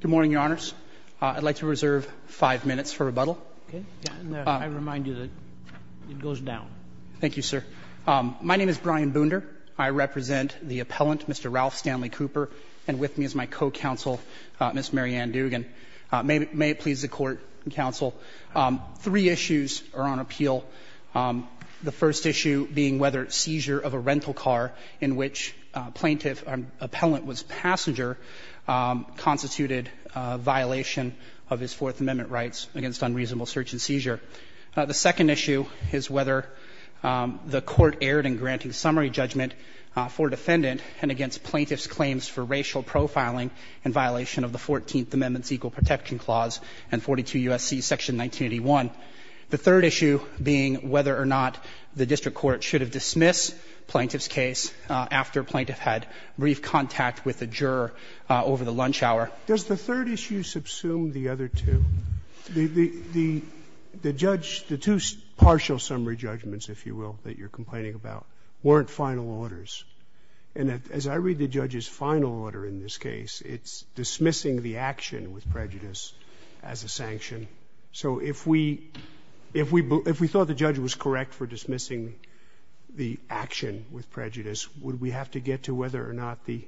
Good morning, your honors. I'd like to reserve five minutes for rebuttal. I remind you that it goes down. Thank you, sir. My name is Brian Boonder. I represent the appellant, Mr. Ralph Stanley Cooper, and with me is my co-counsel, Ms. Mary Ann Dugan. May it please the court and counsel, three issues are on appeal. The first issue being whether seizure of a rental car in which plaintiff or appellant was passenger constituted violation of his Fourth Amendment rights against unreasonable search and seizure. The second issue is whether the court erred in granting summary judgment for defendant and against plaintiff's claims for racial profiling in violation of the Fourteenth Amendment's Equal Protection Clause and 42 U.S.C. Section 1981. The third issue being whether or not the district court should have dismissed plaintiff's case after plaintiff had brief contact with the juror over the lunch hour. Does the third issue subsume the other two? The judge, the two partial summary judgments, if you will, that you're complaining about, weren't final orders. And as I read the judge's final order in this case, it's dismissing the action with prejudice. So if we thought the judge was correct for dismissing the action with prejudice, would we have to get to whether or not the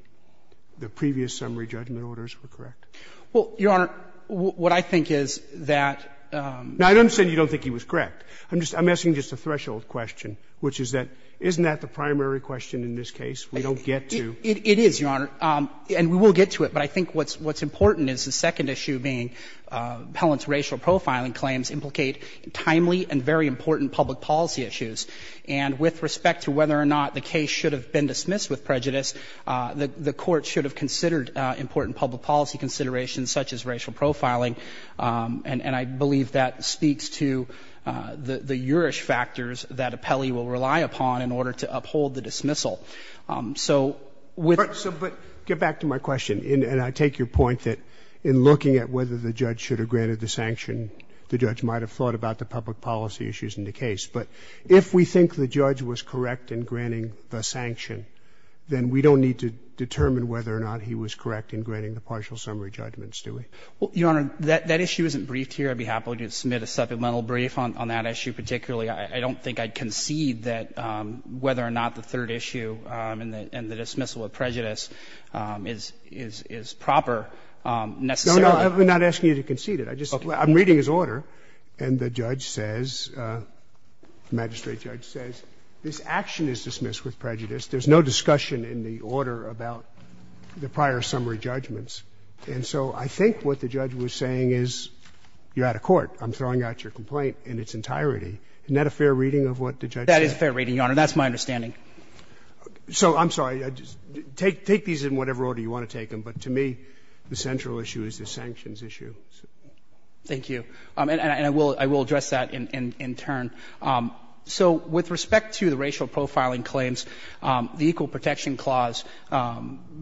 previous summary judgment orders were correct? Well, Your Honor, what I think is that you don't think he was correct. I'm asking just a threshold question, which is that isn't that the primary question in this case? We don't get to. It is, Your Honor, and we will get to it. But I think what's important is the second issue being Appellant's racial profiling claims implicate timely and very important public policy issues. And with respect to whether or not the case should have been dismissed with prejudice, the Court should have considered important public policy considerations such as racial profiling, and I believe that speaks to the jurish factors that Appellee will rely upon in order to uphold the dismissal. So with the other two, I think the third issue is that I take your point that in looking at whether the judge should have granted the sanction, the judge might have thought about the public policy issues in the case. But if we think the judge was correct in granting the sanction, then we don't need to determine whether or not he was correct in granting the partial summary judgments, do we? Well, Your Honor, that issue isn't briefed here. I'd be happy to submit a supplemental brief on that issue. Particularly, I don't think I'd concede that whether or not the third issue and the second issue is proper necessarily. No, we're not asking you to concede it. I'm reading his order, and the judge says the magistrate judge says this action is dismissed with prejudice. There's no discussion in the order about the prior summary judgments. And so I think what the judge was saying is you're out of court. I'm throwing out your complaint in its entirety. Isn't that a fair reading of what the judge said? That is a fair reading, Your Honor. That's my understanding. So I'm sorry, take these in whatever order you want to take them. But to me, the central issue is the sanctions issue. Thank you. And I will address that in turn. So with respect to the racial profiling claims, the Equal Protection Clause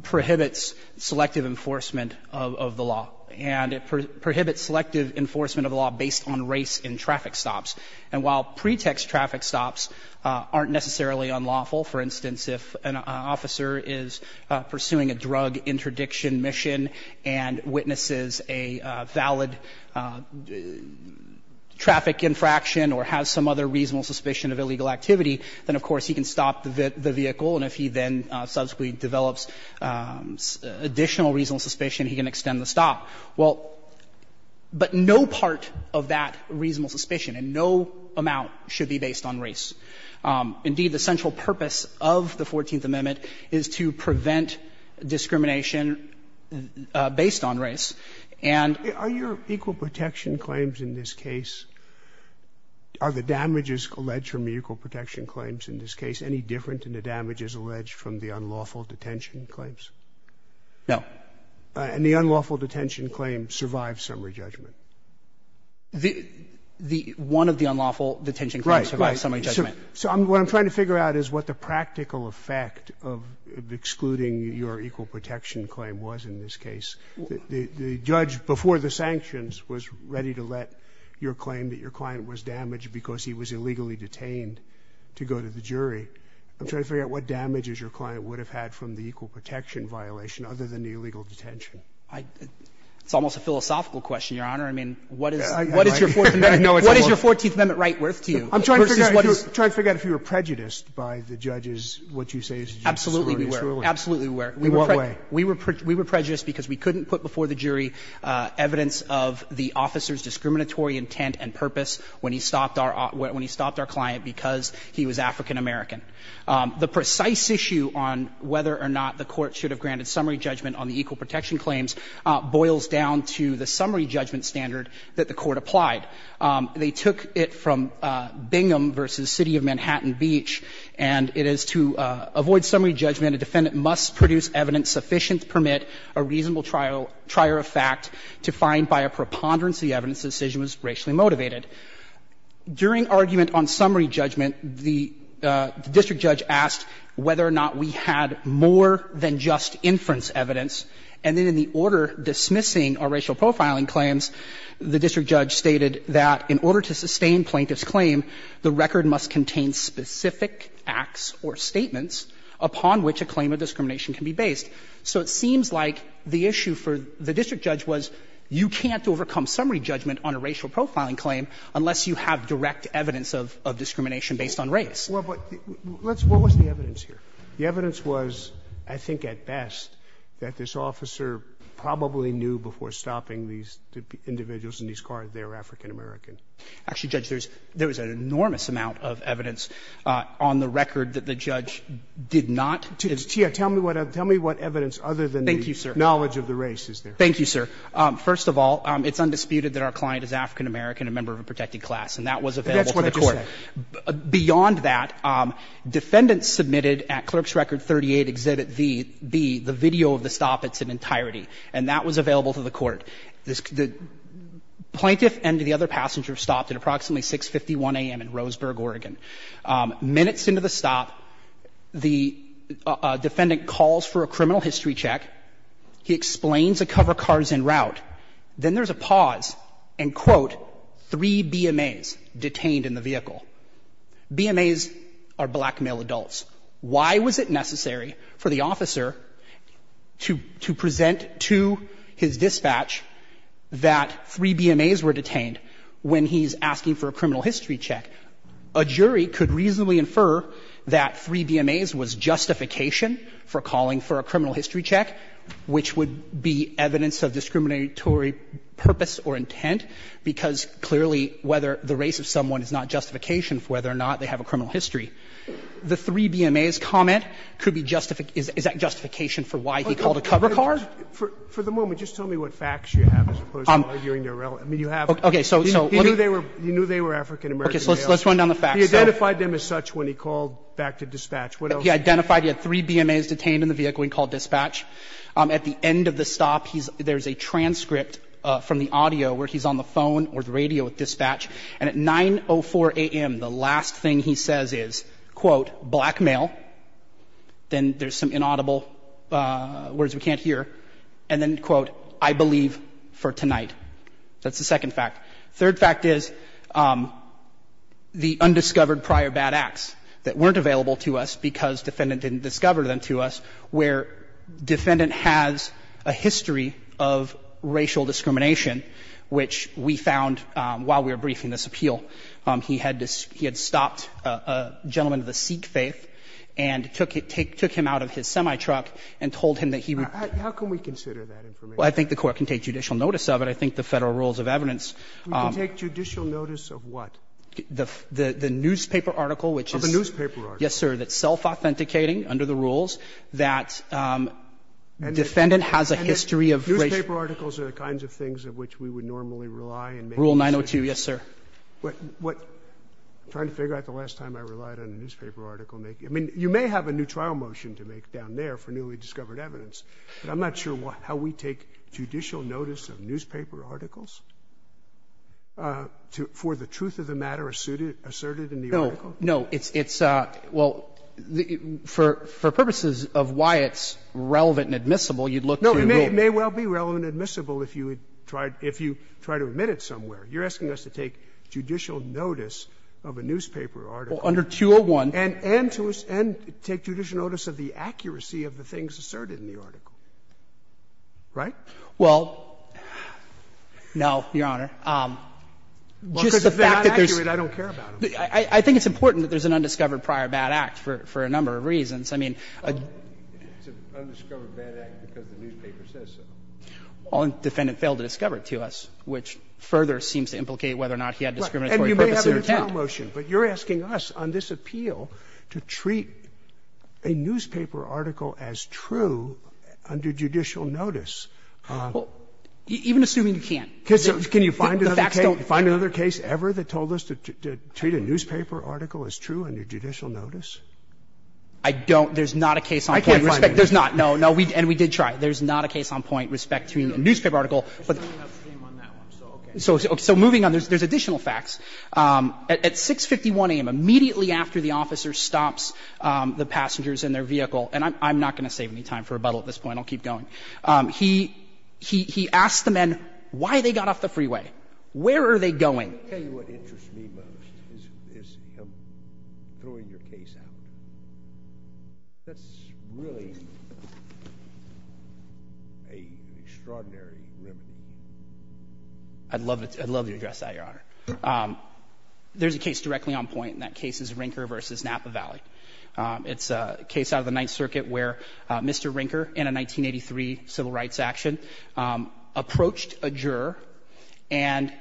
prohibits selective enforcement of the law, and it prohibits selective enforcement of the law based on race in traffic stops. And while pretext traffic stops aren't necessarily unlawful, for instance, if an officer is pursuing a drug interdiction mission and witnesses a valid traffic infraction or has some other reasonable suspicion of illegal activity, then, of course, he can stop the vehicle, and if he then subsequently develops additional reasonable suspicion, he can extend the stop. Well, but no part of that reasonable suspicion and no amount should be based on race. Indeed, the central purpose of the Fourteenth Amendment is to prevent discrimination based on race. that's a very good point. Are your equal protection claims in this case, are the damages alleged from the equal protection claims in this case any different than the damages alleged from the unlawful detention claims? No. And the unlawful detention claims survive summary judgment? The one of the unlawful detention claims survives summary judgment. Right. So what I'm trying to figure out is what the practical effect of excluding your equal protection claim was in this case. The judge before the sanctions was ready to let your claim that your client was damaged because he was illegally detained to go to the jury. I'm trying to figure out what damages your client would have had from the equal protection violation other than the illegal detention. It's almost a philosophical question, Your Honor. I mean, what is your Fourteenth Amendment right worth to you? I'm trying to figure out if you were prejudiced by the judge's what you say is a justice or a ruling. Absolutely we were. In what way? We were prejudiced because we couldn't put before the jury evidence of the officer's discriminatory intent and purpose when he stopped our client because he was African-American. The precise issue on whether or not the Court should have granted summary judgment on the equal protection claims boils down to the summary judgment standard that the Court applied. They took it from Bingham v. City of Manhattan Beach, and it is to avoid summary judgment, a defendant must produce evidence sufficient to permit a reasonable trier of fact to find by a preponderance the evidence the decision was racially motivated. During argument on summary judgment, the district judge asked whether or not we had more than just inference evidence, and then in the order dismissing our racial profiling claims, the district judge stated that in order to sustain plaintiff's claim, the record must contain specific acts or statements upon which a claim of discrimination can be based. So it seems like the issue for the district judge was you can't overcome summary judgment on a racial profiling claim unless you have direct evidence of discrimination based on race. Scalia, what was the evidence here? The evidence was, I think at best, that this officer probably knew before stopping these individuals in these cars that they were African-American. Actually, Judge, there was an enormous amount of evidence on the record that the judge did not. Tell me what evidence other than the knowledge of the race is there. Thank you, sir. First of all, it's undisputed that our client is African-American and a member of a protected class, and that was available to the court. Beyond that, defendants submitted at Clerk's Record 38, Exhibit V, the video of the stoppage in entirety, and that was available to the court. The plaintiff and the other passenger stopped at approximately 6.51 a.m. in Roseburg, Oregon. Minutes into the stop, the defendant calls for a criminal history check. He explains a cover car is en route. Then there's a pause and, quote, three BMAs detained in the vehicle. BMAs are black male adults. Why was it necessary for the officer to present to his dispatch that three BMAs were detained when he's asking for a criminal history check? A jury could reasonably infer that three BMAs was justification for calling for a criminal history check, which would be evidence of discriminatory purpose or intent, because clearly whether the race of someone is not justification for whether or not they have a criminal history. The three BMAs' comment could be justification for why he called a cover car. For the moment, just tell me what facts you have as opposed to arguing irrelevant. I mean, you have it. Okay. So let me go. He knew they were African-American males. Okay. So let's run down the facts. He identified them as such when he called back to dispatch. What else? He identified he had three BMAs detained in the vehicle when he called dispatch. At the end of the stop, he's – there's a transcript from the audio where he's on the phone or the radio with dispatch. And at 9.04 a.m., the last thing he says is, quote, black male. Then there's some inaudible words we can't hear. And then, quote, I believe for tonight. That's the second fact. Third fact is the undiscovered prior bad acts that weren't available to us because the defendant didn't discover them to us, where defendant has a history of racial discrimination, which we found while we were briefing this appeal. He had stopped a gentleman of the Sikh faith and took him out of his semi-truck and told him that he wouldn't. How can we consider that information? Well, I think the Court can take judicial notice of it. I think the Federal Rules of Evidence. We can take judicial notice of what? The newspaper article, which is – Of a newspaper article. Yes, sir. So that's self-authenticating under the rules that defendant has a history of racial discrimination. Newspaper articles are the kinds of things of which we would normally rely and make decisions. Rule 902, yes, sir. What – I'm trying to figure out the last time I relied on a newspaper article making – I mean, you may have a new trial motion to make down there for newly discovered evidence, but I'm not sure how we take judicial notice of newspaper articles for the truth of the matter asserted in the article. No, it's – well, for purposes of why it's relevant and admissible, you'd look to rule – No, it may well be relevant and admissible if you try to admit it somewhere. You're asking us to take judicial notice of a newspaper article. Well, under 201 – And take judicial notice of the accuracy of the things asserted in the article. Right? Well, no, Your Honor. Just the fact that there's – Well, because if they're not accurate, I don't care about them. I think it's important that there's an undiscovered prior bad act for a number of reasons. I mean, I – It's an undiscovered bad act because the newspaper says so. Well, the defendant failed to discover it to us, which further seems to implicate whether or not he had discriminatory purposes or intent. And you may have a new trial motion, but you're asking us on this appeal to treat a newspaper article as true under judicial notice. Well, even assuming you can't. Because can you find another case ever that told us to treat a newspaper article as true under judicial notice? I don't. There's not a case on point. I can't find it. There's not. No, no. And we did try. There's not a case on point with respect to a newspaper article. I don't have the same on that one, so okay. So moving on, there's additional facts. At 651 a.m., immediately after the officer stops the passengers in their vehicle – and I'm not going to save any time for rebuttal at this point. I'll keep going. He asked the men why they got off the freeway. Where are they going? I'll tell you what interests me most, is him throwing your case out. That's really an extraordinary remedy. I'd love to address that, Your Honor. There's a case directly on point, and that case is Rinker v. Napa Valley. It's a case out of the Ninth Circuit where Mr. Rinker, in a 1983 civil rights action, approached a juror and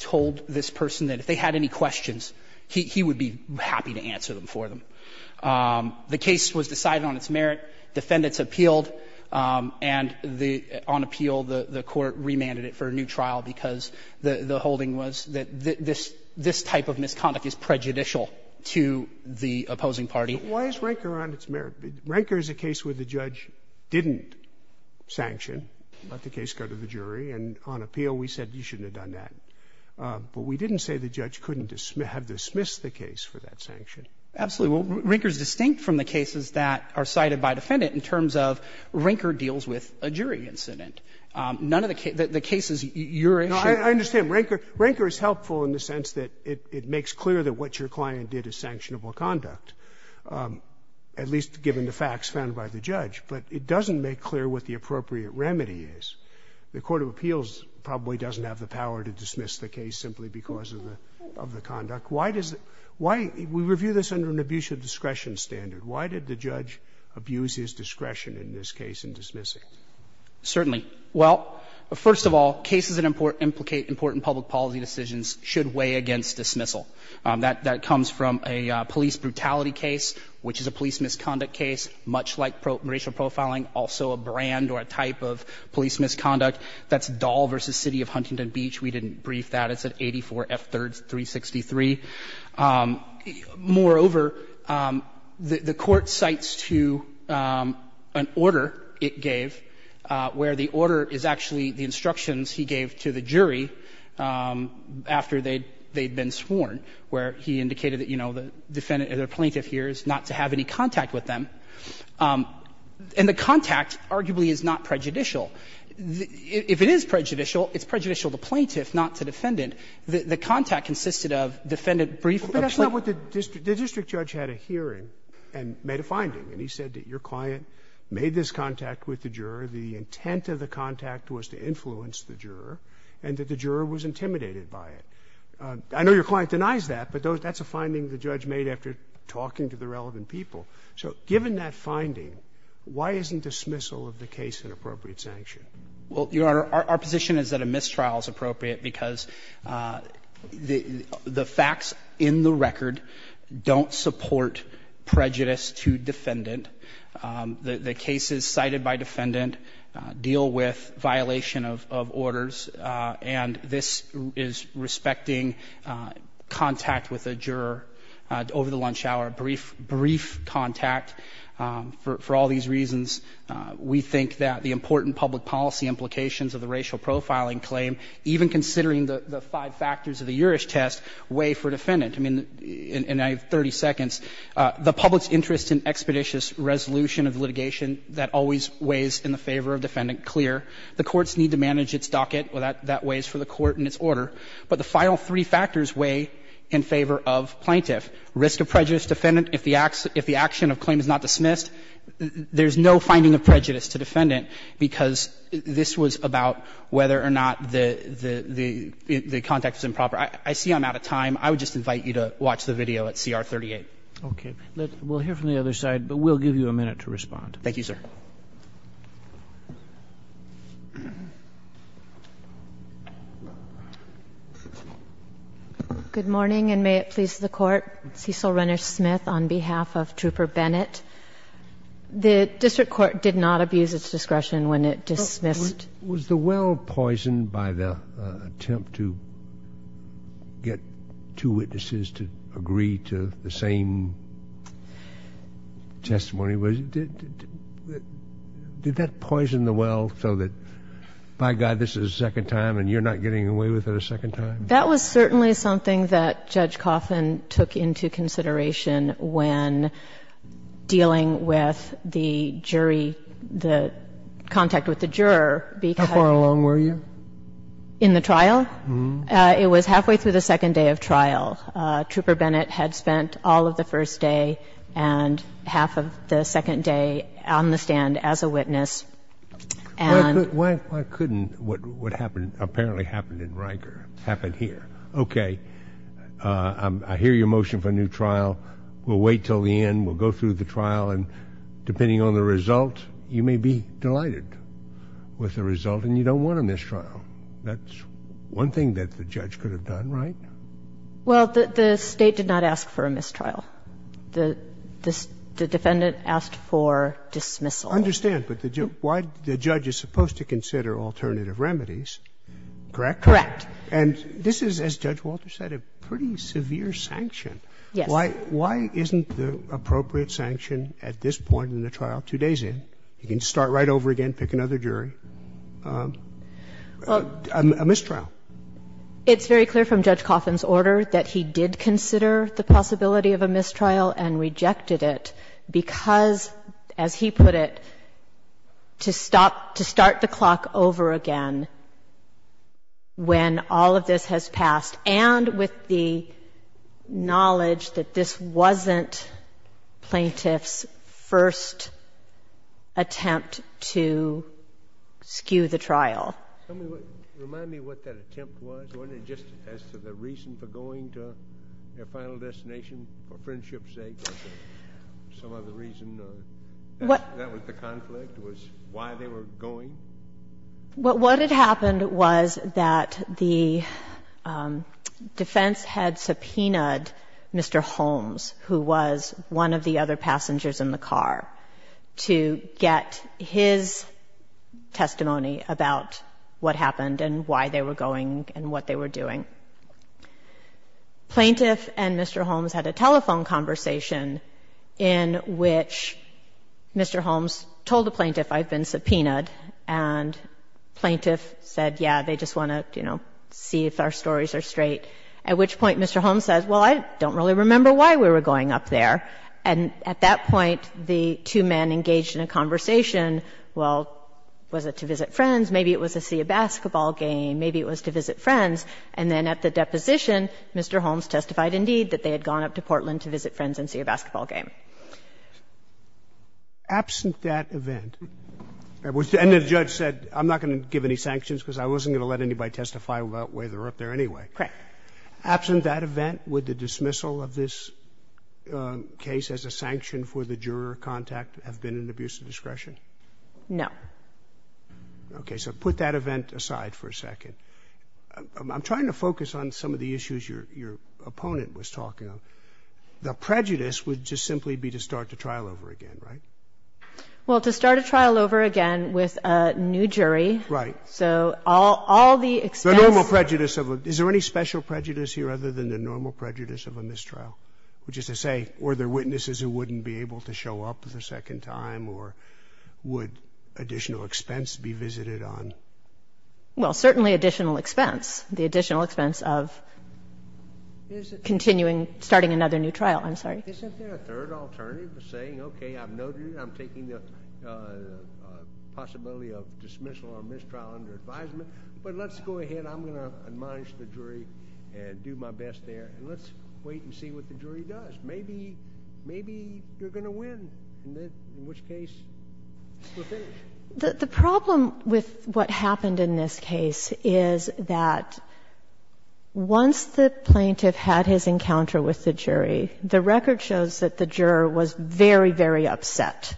told this person that if they had any questions, he would be happy to answer them for them. The case was decided on its merit. Defendants appealed, and on appeal, the Court remanded it for a new trial because the holding was that this type of misconduct is prejudicial to the opposing party. Why is Rinker on its merit? Rinker is a case where the judge didn't sanction, let the case go to the jury, and on appeal, we said you shouldn't have done that. But we didn't say the judge couldn't have dismissed the case for that sanction. Absolutely. Well, Rinker is distinct from the cases that are cited by defendant in terms of Rinker deals with a jury incident. None of the cases you're interested in. No, I understand. Rinker is helpful in the sense that it makes clear that what your client did is sanctionable conduct. At least given the facts found by the judge. But it doesn't make clear what the appropriate remedy is. The court of appeals probably doesn't have the power to dismiss the case simply because of the conduct. Why does it why we review this under an abuse of discretion standard. Why did the judge abuse his discretion in this case in dismissing? Certainly. Well, first of all, cases that implicate important public policy decisions should weigh against dismissal. That comes from a police brutality case, which is a police misconduct case, much like racial profiling, also a brand or a type of police misconduct. That's Dahl v. City of Huntington Beach. We didn't brief that. It's at 84 F. 333. Moreover, the court cites to an order it gave, where the order is actually the instructions he gave to the jury after they'd been sworn. And that's not what the district judge had a hearing and made a finding, and he said that your client made this contact with the juror, the intent of the contact was to influence the juror, and that the juror was intimidated by it. intent to influence the juror. But that's a finding the judge made after talking to the relevant people. So given that finding, why isn't dismissal of the case an appropriate sanction? Well, Your Honor, our position is that a mistrial is appropriate because the facts in the record don't support prejudice to defendant. The cases cited by defendant deal with violation of orders, and this is respecting contact with a juror over the lunch hour, brief contact. For all these reasons, we think that the important public policy implications of the racial profiling claim, even considering the five factors of the Juris test, weigh for defendant. I mean, in 30 seconds, the public's interest in expeditious resolution of litigation that always weighs in the favor of defendant, clear. The courts need to manage its docket. Well, that weighs for the court and its order. But the final three factors weigh in favor of plaintiff. Risk of prejudice to defendant if the action of claim is not dismissed. There's no finding of prejudice to defendant because this was about whether or not the contact was improper. I see I'm out of time. I would just invite you to watch the video at CR 38. Roberts. Okay. We'll hear from the other side, but we'll give you a minute to respond. Thank you, sir. Good morning, and may it please the Court. Cecil Renner Smith on behalf of Trooper Bennett. The district court did not abuse its discretion when it dismissed. Was the well poisoned by the attempt to get two witnesses to agree to the same testimony? Did that poison the well so that, by God, this is a second time and you're not getting away with it a second time? That was certainly something that Judge Coffin took into consideration when dealing with the jury, the contact with the juror, because of the trial. How far along were you? In the trial? It was halfway through the second day of trial. Trooper Bennett had spent all of the first day and half of the second day on the stand as a witness. Why couldn't what happened, apparently happened in Riker, happen here? Okay. I hear your motion for a new trial. We'll wait until the end. We'll go through the trial, and depending on the result, you may be delighted with the result, and you don't want a mistrial. That's one thing that the judge could have done, right? Well, the State did not ask for a mistrial. The defendant asked for dismissal. I understand, but the judge is supposed to consider alternative remedies, correct? Correct. And this is, as Judge Walter said, a pretty severe sanction. Yes. Why isn't the appropriate sanction at this point in the trial, two days in, you can start right over again, pick another jury, a mistrial? It's very clear from Judge Coffin's order that he did consider the possibility of a mistrial and rejected it because, as he put it, to start the clock over again when all of this has passed, and with the knowledge that this wasn't plaintiff's first attempt to skew the trial. Tell me, remind me what that attempt was. Wasn't it just as to the reason for going to their final destination, for friendship's sake, or some other reason, or that was the conflict, was why they were going? What had happened was that the defense had subpoenaed Mr. Holmes, who was one of the other passengers in the car, to get his testimony about what happened and why they were going and what they were doing. Plaintiff and Mr. Holmes had a telephone conversation in which Mr. Holmes told the plaintiff, I've been subpoenaed, and plaintiff said, yeah, they just want to, you know, see if our stories are straight, at which point Mr. Holmes says, well, I don't really remember why we were going up there. And at that point, the two men engaged in a conversation, well, was it to visit friends, maybe it was to see a basketball game, maybe it was to visit friends. And then at the deposition, Mr. Holmes testified, indeed, that they had gone up to Portland to visit friends and see a basketball game. Absent that event, and the judge said, I'm not going to give any sanctions because I wasn't going to let anybody testify about whether we're up there anyway. Correct. Absent that event, would the dismissal of this case as a sanction for the juror contact have been an abuse of discretion? No. OK, so put that event aside for a second. I'm trying to focus on some of the issues your opponent was talking about. The prejudice would just simply be to start the trial over again, right? Well, to start a trial over again with a new jury. Right. So all the expense. Is there any special prejudice here other than the normal prejudice of a mistrial, which is to say, were there witnesses who wouldn't be able to show up the second time, or would additional expense be visited on? Well, certainly additional expense. The additional expense of continuing, starting another new trial. I'm sorry. Isn't there a third alternative of saying, OK, I've noted I'm taking the possibility of dismissal or mistrial under advisement, but let's go ahead. I'm going to admonish the jury and do my best there. And let's wait and see what the jury does. Maybe you're going to win, in which case, we'll finish. The problem with what happened in this case is that once the plaintiff had his encounter with the jury, the record shows that the juror was very, very upset.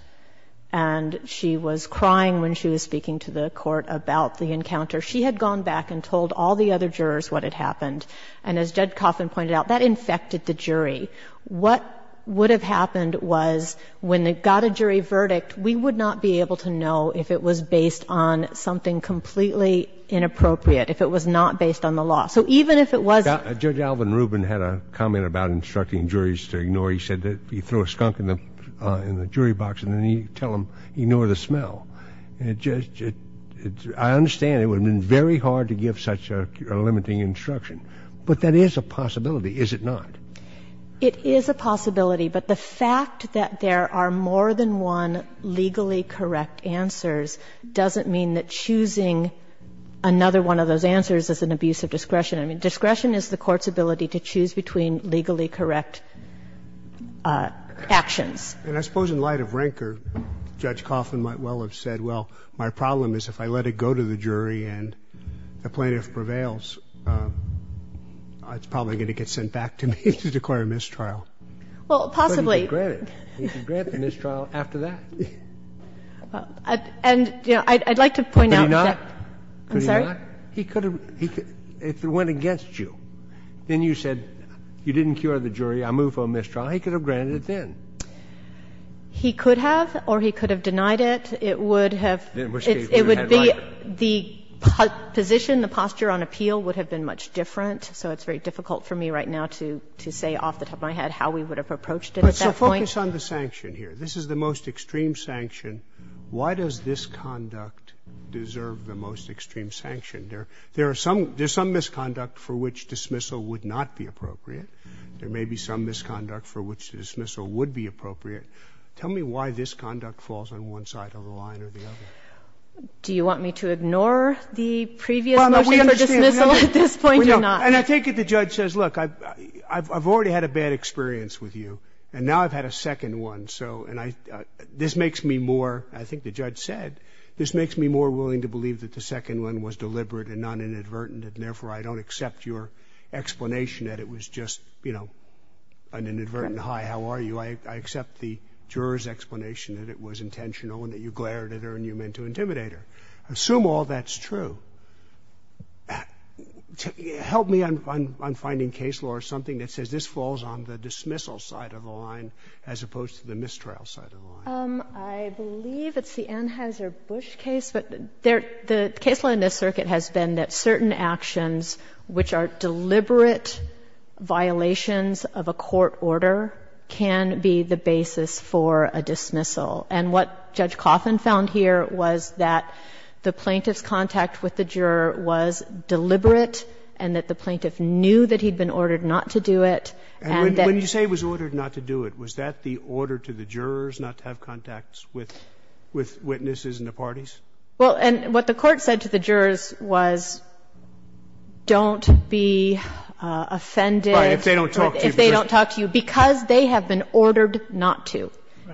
And she was crying when she was speaking to the court about the encounter. She had gone back and told all the other jurors what had happened. And as Judge Coffin pointed out, that infected the jury. What would have happened was, when they got a jury verdict, we would not be able to know if it was based on something completely inappropriate, if it was not based on the law. So even if it was. Judge Alvin Rubin had a comment about instructing juries to ignore. He said that you throw a skunk in the jury box, and then you tell them, ignore the smell. And it just — I understand it would have been very hard to give such a limiting instruction, but that is a possibility, is it not? It is a possibility, but the fact that there are more than one legally correct answers doesn't mean that choosing another one of those answers is an abuse of discretion. I mean, discretion is the Court's ability to choose between legally correct actions. And I suppose in light of rancor, Judge Coffin might well have said, well, my problem is if I let it go to the jury and the plaintiff prevails, it's probably going to get sent back to me to declare a mistrial. Well, possibly. But he could grant it. He could grant the mistrial after that. And, you know, I'd like to point out that — Could he not? I'm sorry? He could have — if it went against you, then you said, you didn't cure the jury, I move for a mistrial, he could have granted it then. He could have, or he could have denied it. It would have been the position, the posture on appeal would have been much different. So it's very difficult for me right now to say off the top of my head how we would have approached it at that point. So focus on the sanction here. This is the most extreme sanction. Why does this conduct deserve the most extreme sanction? There are some — there's some misconduct for which dismissal would not be appropriate. There may be some misconduct for which the dismissal would be appropriate. Tell me why this conduct falls on one side of the line or the other. Do you want me to ignore the previous motion for dismissal at this point or not? And I take it the judge says, look, I've already had a bad experience with you. And now I've had a second one. So — and I — this makes me more — I think the judge said, this makes me more willing to believe that the second one was deliberate and not inadvertent, and therefore I don't accept your explanation that it was just, you know, an inadvertent, hi, how are you. I accept the juror's explanation that it was intentional and that you glared at her and you meant to intimidate her. Assume all that's true. Help me on finding case law or something that says this falls on the dismissal side of the line as opposed to the mistrial side of the line. I believe it's the Anheuser-Busch case. But there — the case law in this circuit has been that certain actions which are deliberate violations of a court order can be the basis for a dismissal. And what Judge Coffin found here was that the plaintiff's contact with the juror was deliberate and that the plaintiff knew that he'd been ordered not to do it, and that — And when you say was ordered not to do it, was that the order to the jurors not to have contacts with witnesses in the parties? Well, and what the Court said to the jurors was don't be offended or if they don't talk to you, because they have been ordered not to.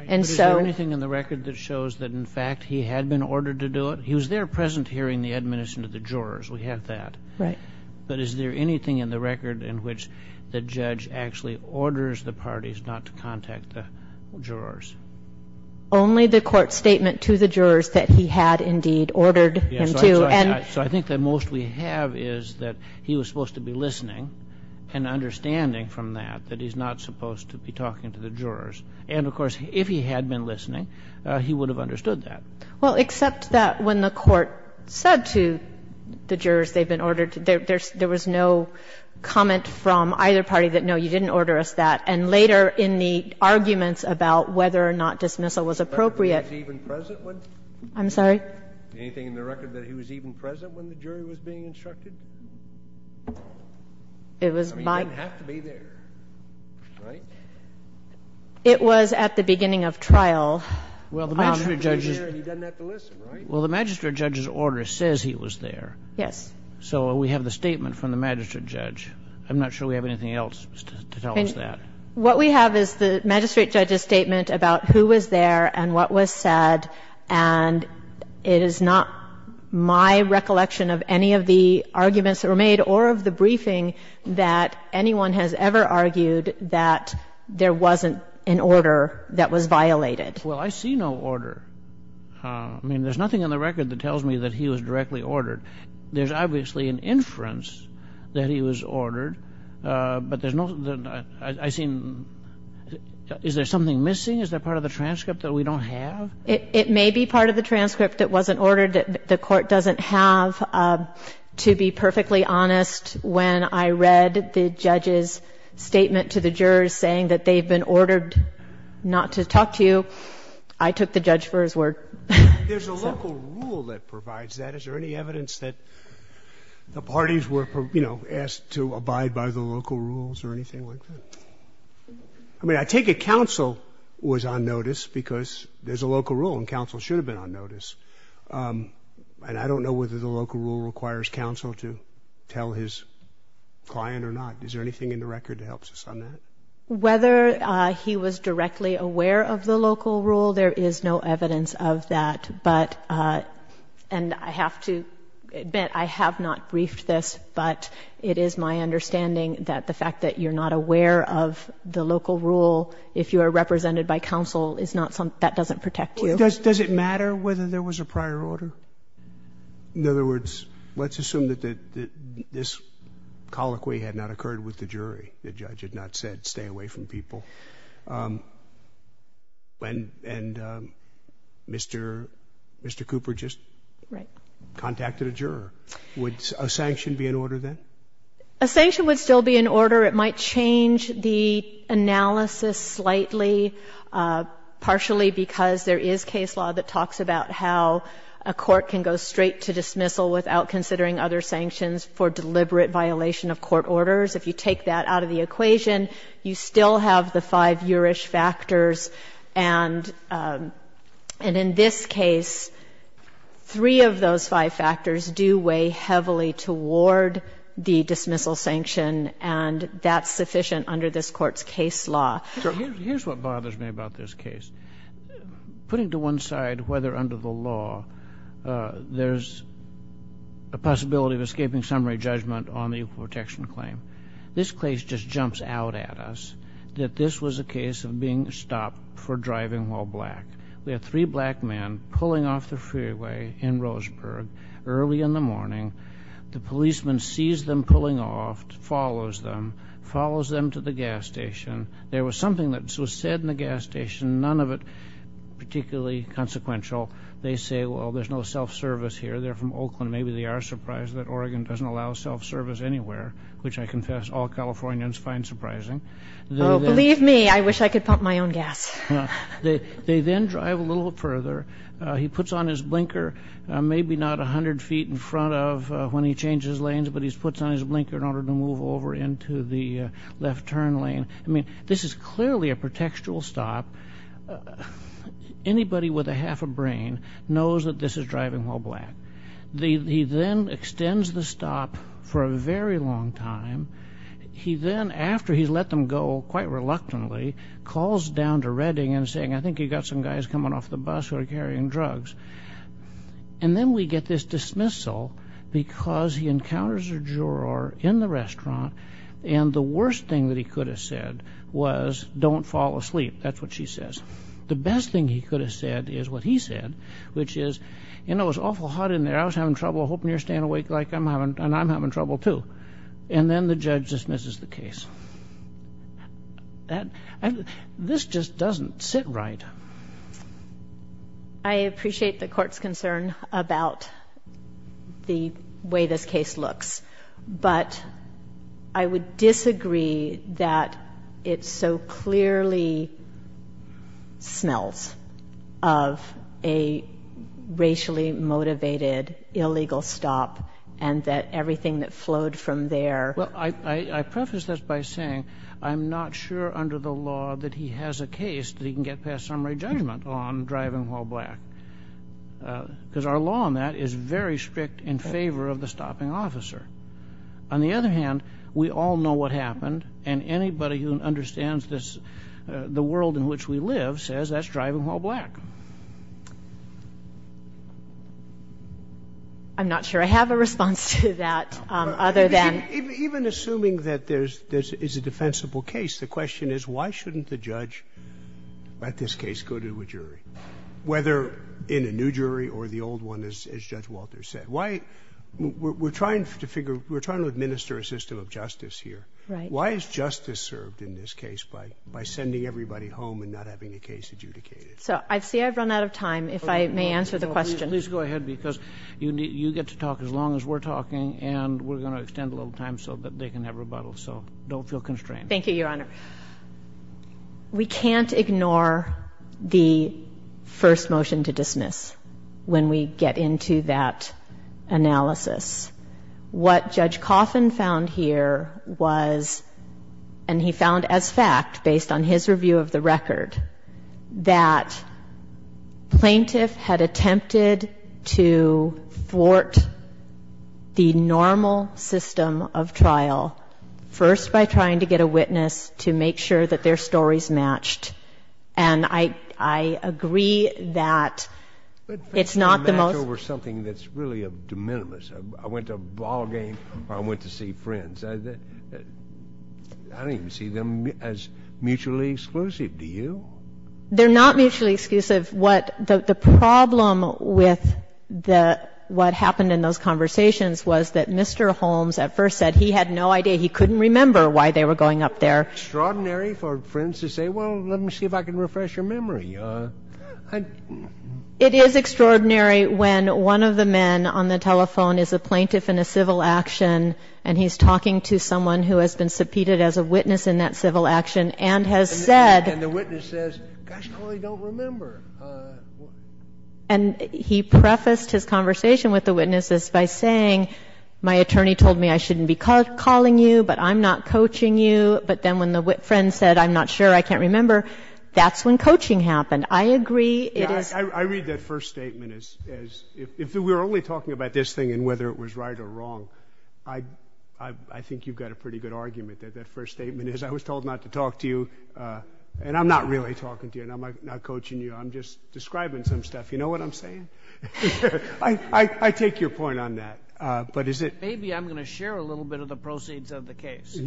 And so — But is there anything in the record that shows that, in fact, he had been ordered to do it? He was there present hearing the admonition of the jurors. We have that. Right. But is there anything in the record in which the judge actually orders the parties not to contact the jurors? Only the Court's statement to the jurors that he had indeed ordered him to. And — So I think that most we have is that he was supposed to be listening and understanding from that that he's not supposed to be talking to the jurors. And, of course, if he had been listening, he would have understood that. Well, except that when the Court said to the jurors they'd been ordered to, there was no comment from either party that, no, you didn't order us that. And later in the arguments about whether or not dismissal was appropriate — But was he even present when — I'm sorry? Anything in the record that he was even present when the jury was being instructed? It was by — I mean, he didn't have to be there, right? It was at the beginning of trial. Well, the magistrate judge's — He was there and he doesn't have to listen, right? Well, the magistrate judge's order says he was there. Yes. So we have the statement from the magistrate judge. I'm not sure we have anything else to tell us that. What we have is the magistrate judge's statement about who was there and what was said, and it is not my recollection of any of the arguments that were made or of the briefing that anyone has ever argued that there wasn't an order that was violated. Well, I see no order. I mean, there's nothing in the record that tells me that he was directly ordered. There's obviously an inference that he was ordered, but there's no — I see no evidence that he was ordered to talk to the jury. I mean, is there something missing? Is there part of the transcript that we don't have? It may be part of the transcript that wasn't ordered. The Court doesn't have, to be perfectly honest, when I read the judge's statement to the jurors saying that they've been ordered not to talk to you, I took the judge for his word. There's a local rule that provides that. Is there any evidence that the parties were, you know, asked to abide by the local rules or anything like that? I mean, I take it counsel was on notice because there's a local rule, and counsel should have been on notice. And I don't know whether the local rule requires counsel to tell his client or not. Is there anything in the record that helps us on that? Whether he was directly aware of the local rule, there is no evidence of that. But and I have to admit, I have not briefed this, but it is my understanding that the fact that you're not aware of the local rule, if you are represented by counsel, is not something that doesn't protect you. Does it matter whether there was a prior order? In other words, let's assume that this colloquy had not occurred with the jury. The judge had not said stay away from people. And Mr. Cooper just contacted a juror. Would a sanction be in order then? A sanction would still be in order. It might change the analysis slightly, partially because there is case law that talks about how a court can go straight to dismissal without considering other sanctions for deliberate violation of court orders. If you take that out of the equation, you still have the five jurish factors. And in this case, three of those five factors do weigh heavily toward the dismissal sanction, and that's sufficient under this Court's case law. Here's what bothers me about this case. Putting to one side whether under the law there's a possibility of escaping summary judgment on the equal protection claim. This case just jumps out at us that this was a case of being stopped for driving while black. We had three black men pulling off the freeway in Roseburg early in the morning. The policeman sees them pulling off, follows them, follows them to the gas station. There was something that was said in the gas station, none of it particularly consequential. They're from Oakland. Maybe they are surprised that Oregon doesn't allow self-service anywhere, which I confess all Californians find surprising. Believe me, I wish I could pump my own gas. They then drive a little further. He puts on his blinker, maybe not 100 feet in front of when he changes lanes, but he puts on his blinker in order to move over into the left turn lane. I mean, this is clearly a pretextual stop. Anybody with a half a brain knows that this is driving while black. He then extends the stop for a very long time. He then, after he's let them go quite reluctantly, calls down to Redding and saying, I think you've got some guys coming off the bus who are carrying drugs. And then we get this dismissal because he encounters a juror in the restaurant, and the worst thing that he could have said was, don't fall asleep. That's what she says. The best thing he could have said is what he said, which is, it was awful hot in there, I was having trouble, I'm hoping you're staying awake like I'm having, and I'm having trouble, too. And then the judge dismisses the case. This just doesn't sit right. I appreciate the court's concern about the way this case looks. But I would disagree that it so clearly smells of a racially motivated illegal stop, and that everything that flowed from there. Well, I preface this by saying, I'm not sure under the law that he has a case that he can get past summary judgment on driving while black. because our law on that is very strict in favor of the stopping officer. On the other hand, we all know what happened, and anybody who understands the world in which we live says that's driving while black. I'm not sure I have a response to that, other than. Even assuming that this is a defensible case, the question is, why shouldn't the judge, at this case, go to a jury, whether in a new jury or the old one, as Judge Walter said? Why, we're trying to administer a system of justice here. Right. Why is justice served in this case by sending everybody home and not having a case adjudicated? So, I see I've run out of time. If I may answer the question. Please go ahead, because you get to talk as long as we're talking, and we're going to extend a little time so that they can have rebuttal, so don't feel constrained. Thank you, Your Honor. We can't ignore the first motion to dismiss when we get into that analysis. What Judge Coffin found here was, and he found as fact, based on his review of the record, that plaintiff had attempted to thwart the normal system of trial, first by trying to get a witness to make sure that their stories matched. And I agree that it's not the most- Match over something that's really de minimis. I went to a ball game, or I went to see friends. I don't even see them as mutually exclusive. Do you? They're not mutually exclusive. What the problem with what happened in those conversations was that Mr. Holmes at first said he had no idea. He couldn't remember why they were going up there. Extraordinary for friends to say, well, let me see if I can refresh your memory. It is extraordinary when one of the men on the telephone is a plaintiff in a civil action, and he's talking to someone who has been subpoenaed as a witness in that civil action and has said- And the witness says, gosh, I really don't remember. And he prefaced his conversation with the witnesses by saying, my attorney told me I shouldn't be calling you, but I'm not coaching you. But then when the friend said, I'm not sure, I can't remember, that's when coaching happened. I agree it is- I read that first statement as, if we were only talking about this thing and whether it was right or wrong, I think you've got a pretty good argument that that first statement is, I was told not to talk to you, and I'm not really talking to you, and I'm not coaching you. I'm just describing some stuff. You know what I'm saying? I take your point on that, but is it- Maybe I'm going to share a little bit of the proceeds of the case.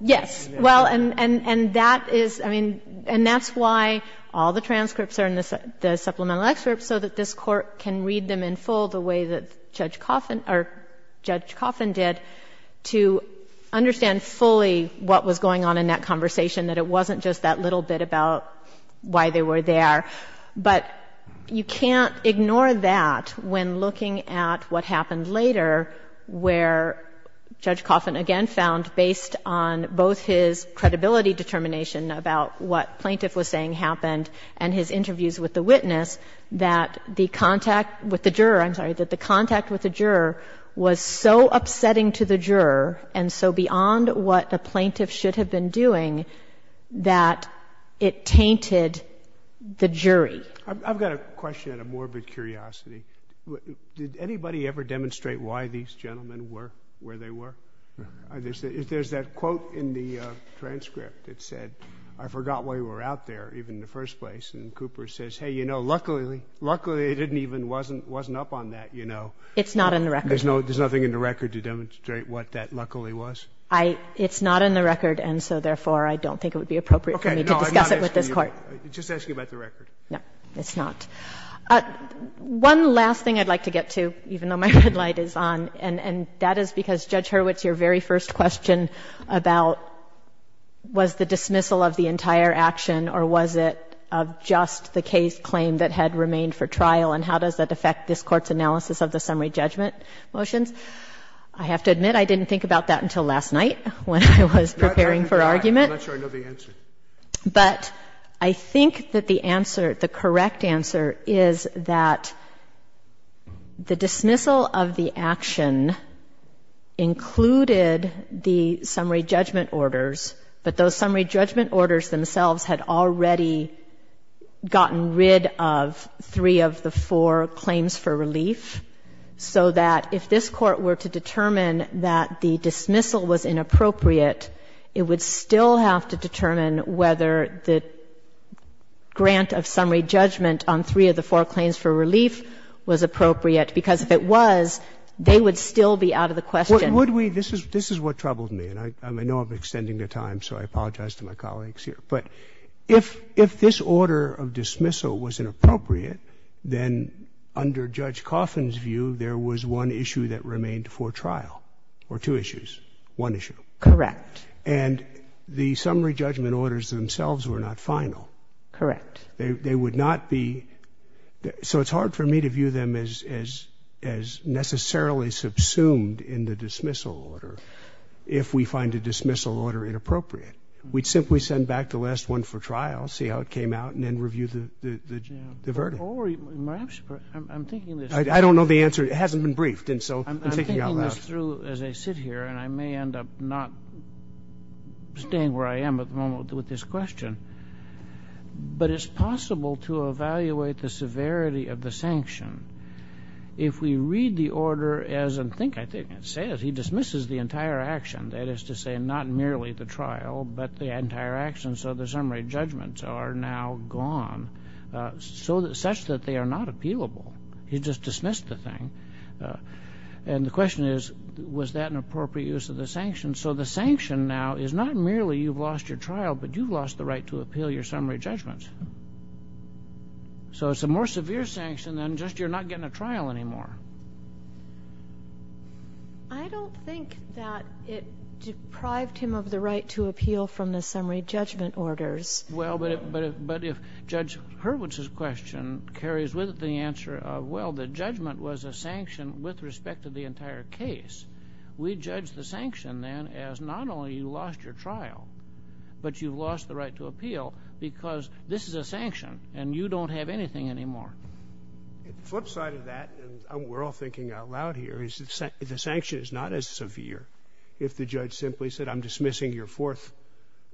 Yes, well, and that is, I mean, and that's why all the transcripts are in the supplemental excerpts, so that this Court can read them in full the way that Judge Coffin did to understand fully what was going on in that conversation, that it wasn't just that little bit about why they were there. But you can't ignore that when looking at what happened later, where Judge Coffin again found based on both his credibility determination about what plaintiff was saying happened and his interviews with the witness, that the contact with the juror, I'm sorry, that the contact with the juror was so upsetting to the juror and so beyond what the plaintiff should have been doing, that it tainted the jury. I've got a question out of morbid curiosity. Did anybody ever demonstrate why these gentlemen were where they were? There's that quote in the transcript that said, I forgot why you were out there, even in the first place, and Cooper says, hey, you know, luckily it wasn't up on that, you know. It's not in the record. There's nothing in the record to demonstrate what that luckily was? It's not in the record, and so therefore, I don't think it would be appropriate for me to discuss it with this Court. Just asking about the record. No, it's not. One last thing I'd like to get to, even though my red light is on, and that is because Judge Hurwitz, your very first question about was the dismissal of the entire action or was it of just the case claim that had remained for trial, and how does that affect this Court's analysis of the summary judgment motions, I have to admit I didn't think about that until last night when I was preparing for argument. But I think that the answer, the correct answer, is that the dismissal of the action included the summary judgment orders, but those summary judgment orders themselves had already gotten rid of three of the four claims for relief, so that if this Court were to determine that the dismissal was inappropriate, it would still have to determine whether the grant of summary judgment on three of the four claims for relief was appropriate, because if it was, they would still be out of the question. Would we? This is what troubled me, and I know I've been extending the time, so I apologize to my colleagues here, but if this order of dismissal was inappropriate, then under Judge Coffin's view, there was one issue that remained for trial, or two issues, one issue. Correct. And the summary judgment orders themselves were not final. Correct. They would not be, so it's hard for me to view them as necessarily subsumed in the dismissal order if we find a dismissal order inappropriate. We'd simply send back the last one for trial, see how it came out, and then review the verdict. Or perhaps, I'm thinking this through. I don't know the answer. It hasn't been briefed, and so I'm thinking out loud. I'm thinking this through as I sit here, and I may end up not staying where I am at the moment with this question, but it's possible to evaluate the severity of the sanction if we read the order as, and think, I think, it says he dismisses the entire action, that is to say, not merely the trial, but the entire action, so the summary judgments are now gone, such that they are not appealable. He just dismissed the thing. And the question is, was that an appropriate use of the sanction? So the sanction now is not merely you've lost your trial, but you've lost the right to appeal your summary judgments. So it's a more severe sanction than just you're not getting a trial anymore. I don't think that it deprived him of the right to appeal from the summary judgment orders. Well, but if Judge Hurwitz's question carries with it the answer of, well, the judgment was a sanction with respect to the entire case, we judge the sanction then as not only you lost your trial, but you've lost the right to appeal because this is a sanction, and you don't have anything anymore. The flip side of that, and we're all thinking out loud here, is the sanction is not as severe if the judge simply said, I'm dismissing your fourth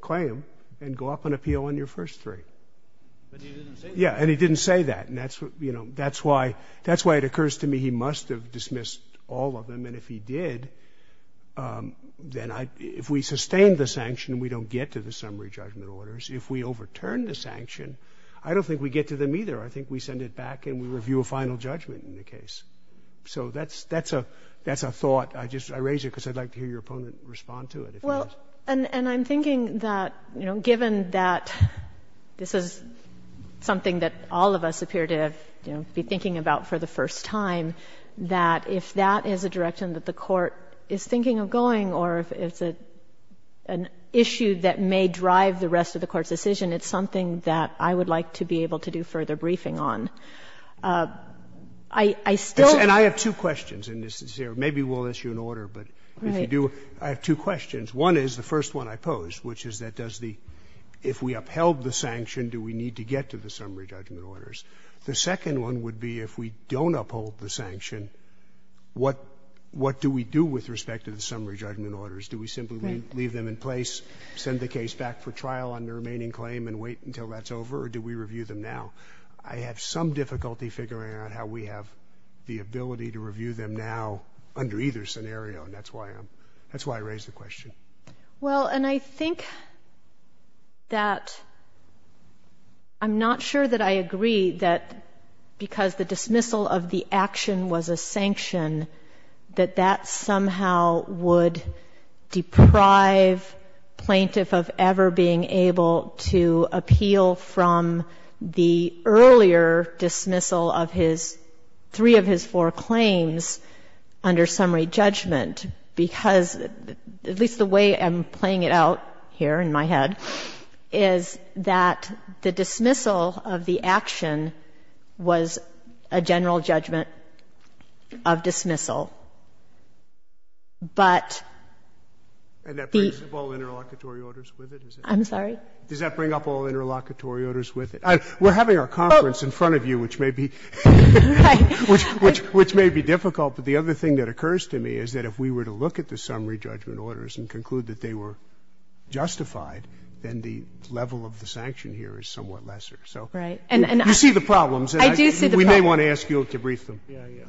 claim and go up and appeal on your first three. But he didn't say that. Yeah. And he didn't say that. And that's what, you know, that's why it occurs to me he must have dismissed all of them. And if he did, then if we sustain the sanction, we don't get to the summary judgment orders. If we overturn the sanction, I don't think we get to them either. I think we send it back, and we review a final judgment in the case. So that's a thought. I just raise it because I'd like to hear your opponent respond to it, if he has. And I'm thinking that, you know, given that this is something that all of us appear to be thinking about for the first time, that if that is a direction that the Court is thinking of going, or if it's an issue that may drive the rest of the Court's decision, it's something that I would like to be able to do further briefing on. I still don't think that's the case. And I have two questions in this. Maybe we'll issue an order, but if you do, I have two questions. One is, the first one I pose, which is that does the — if we upheld the sanction, do we need to get to the summary judgment orders? The second one would be, if we don't uphold the sanction, what do we do with respect to the summary judgment orders? Do we simply leave them in place, send the case back for trial on the remaining claim and wait until that's over, or do we review them now? I have some difficulty figuring out how we have the ability to review them now under either scenario, and that's why I'm — that's why I raised the question. Well, and I think that I'm not sure that I agree that because the dismissal of the action was a sanction, that that somehow would deprive plaintiff of ever being able to appeal from the earlier dismissal of his — three of his four claims under summary judgment because — at least the way I'm playing it out here in my head — is that the dismissal of the action was a general judgment of dismissal. But the — And that brings up all interlocutory orders with it? I'm sorry? Does that bring up all interlocutory orders with it? We're having our conference in front of you, which may be — Right. Which may be difficult, but the other thing that occurs to me is that if we were to look at the summary judgment orders and conclude that they were justified, then the level of the sanction here is somewhat lesser. So you see the problems, and we may want to ask you to brief them.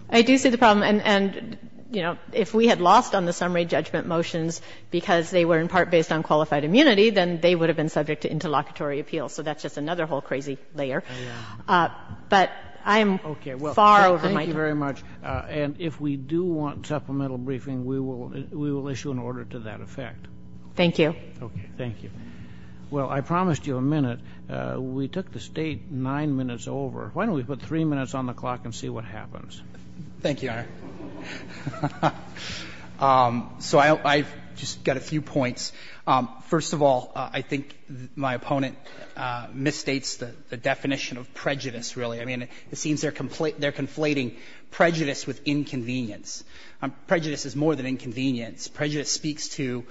I do see the problem. And, you know, if we had lost on the summary judgment motions because they were in part based on qualified immunity, then they would have been subject to interlocutory appeals. So that's just another whole crazy layer. But I'm far over my head. Thank you very much. And if we do want supplemental briefing, we will issue an order to that effect. Thank you. Okay. Thank you. Well, I promised you a minute. We took this date 9 minutes over. Why don't we put 3 minutes on the clock and see what happens? Thank you, Your Honor. So I've just got a few points. First of all, I think my opponent misstates the definition of prejudice, really. I mean, it seems they're conflating prejudice with inconvenience. Prejudice is more than inconvenience. Prejudice speaks to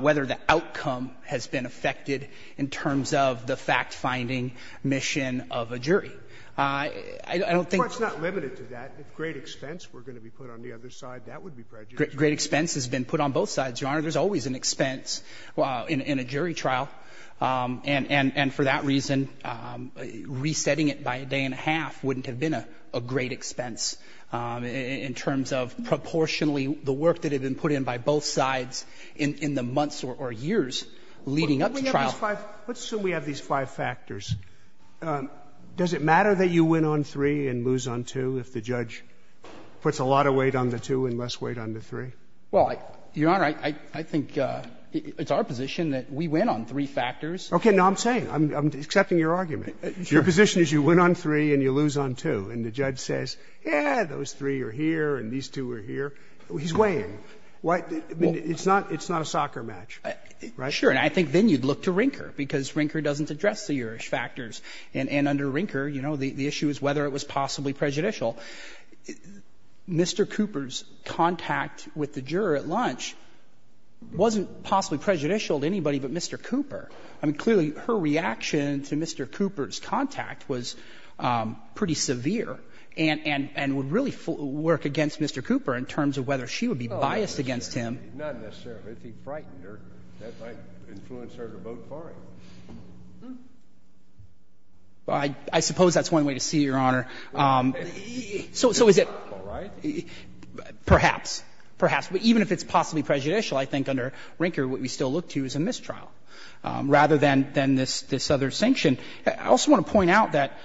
whether the outcome has been affected in terms of the fact-finding mission of a jury. I don't think the court's not limited to that. If great expense were going to be put on the other side, that would be prejudice. Great expense has been put on both sides, Your Honor. There's always an expense in a jury trial. And for that reason, resetting it by a day and a half wouldn't have been a great expense in terms of proportionally the work that had been put in by both sides in the months or years leading up to trial. Let's assume we have these five factors. Does it matter that you win on 3 and lose on 2 if the judge puts a lot of weight on the 2 and less weight on the 3? Well, Your Honor, I think it's our position that we win on three factors. Okay. Now, I'm saying, I'm accepting your argument. Your position is you win on 3 and you lose on 2. And the judge says, yeah, those three are here and these two are here. He's weighing. It's not a soccer match, right? Sure. And I think then you'd look to Rinker, because Rinker doesn't address the Erich factors. And under Rinker, you know, the issue is whether it was possibly prejudicial. Mr. Cooper's contact with the juror at lunch wasn't possibly prejudicial to anybody but Mr. Cooper. I mean, clearly, her reaction to Mr. Cooper's contact was pretty severe and would really work against Mr. Cooper in terms of whether she would be biased against him. Not necessarily. If he frightened her, that might influence her to vote for him. I suppose that's one way to see it, Your Honor. So is it perhaps, perhaps. Even if it's possibly prejudicial, I think under Rinker what we still look to is a mistrial. Rather than this other sanction. I also want to point out that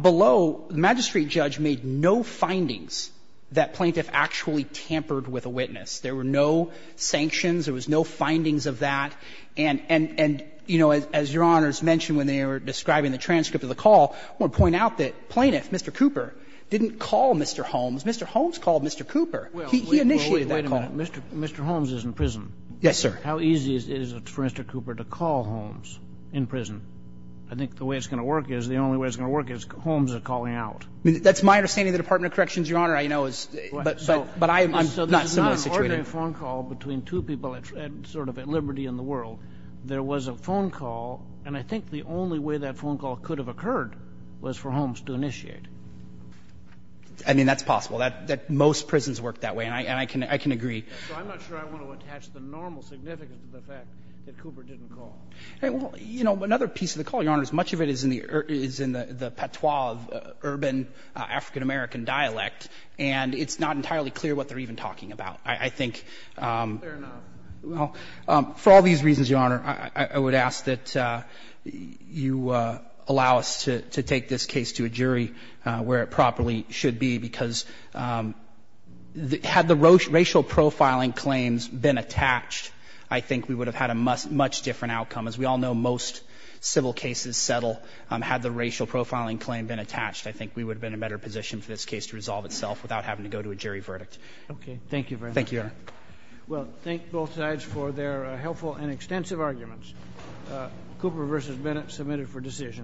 below, the magistrate judge made no findings that plaintiff actually tampered with a witness. There were no sanctions. There was no findings of that. And, you know, as Your Honor has mentioned when they were describing the transcript of the call, I want to point out that plaintiff, Mr. Cooper, didn't call Mr. Holmes. Mr. Holmes called Mr. Cooper. He initiated that call. Mr. Holmes is in prison. Yes, sir. How easy is it for Mr. Cooper to call Holmes in prison? I think the way it's going to work is, the only way it's going to work is Holmes is calling out. That's my understanding of the Department of Corrections, Your Honor. I know it's not a similar situation. So there's not an ordinary phone call between two people sort of at liberty in the world. There was a phone call, and I think the only way that phone call could have occurred was for Holmes to initiate. I mean, that's possible. Most prisons work that way, and I can agree. So I'm not sure I want to attach the normal significance of the fact that Cooper didn't call. Well, you know, another piece of the call, Your Honor, is much of it is in the patois of urban African-American dialect, and it's not entirely clear what they're even talking about. I think, well, for all these reasons, Your Honor, I would ask that you allow us to take this case to a jury where it properly should be, because had the racial profile and claims been attached, I think we would have had a much different outcome. As we all know, most civil cases settle. Had the racial profiling claim been attached, I think we would have been in a better position for this case to resolve itself without having to go to a jury verdict. Okay. Thank you very much. Thank you, Your Honor. Well, thank both sides for their helpful and extensive arguments. Cooper v. Bennett, submitted for decision.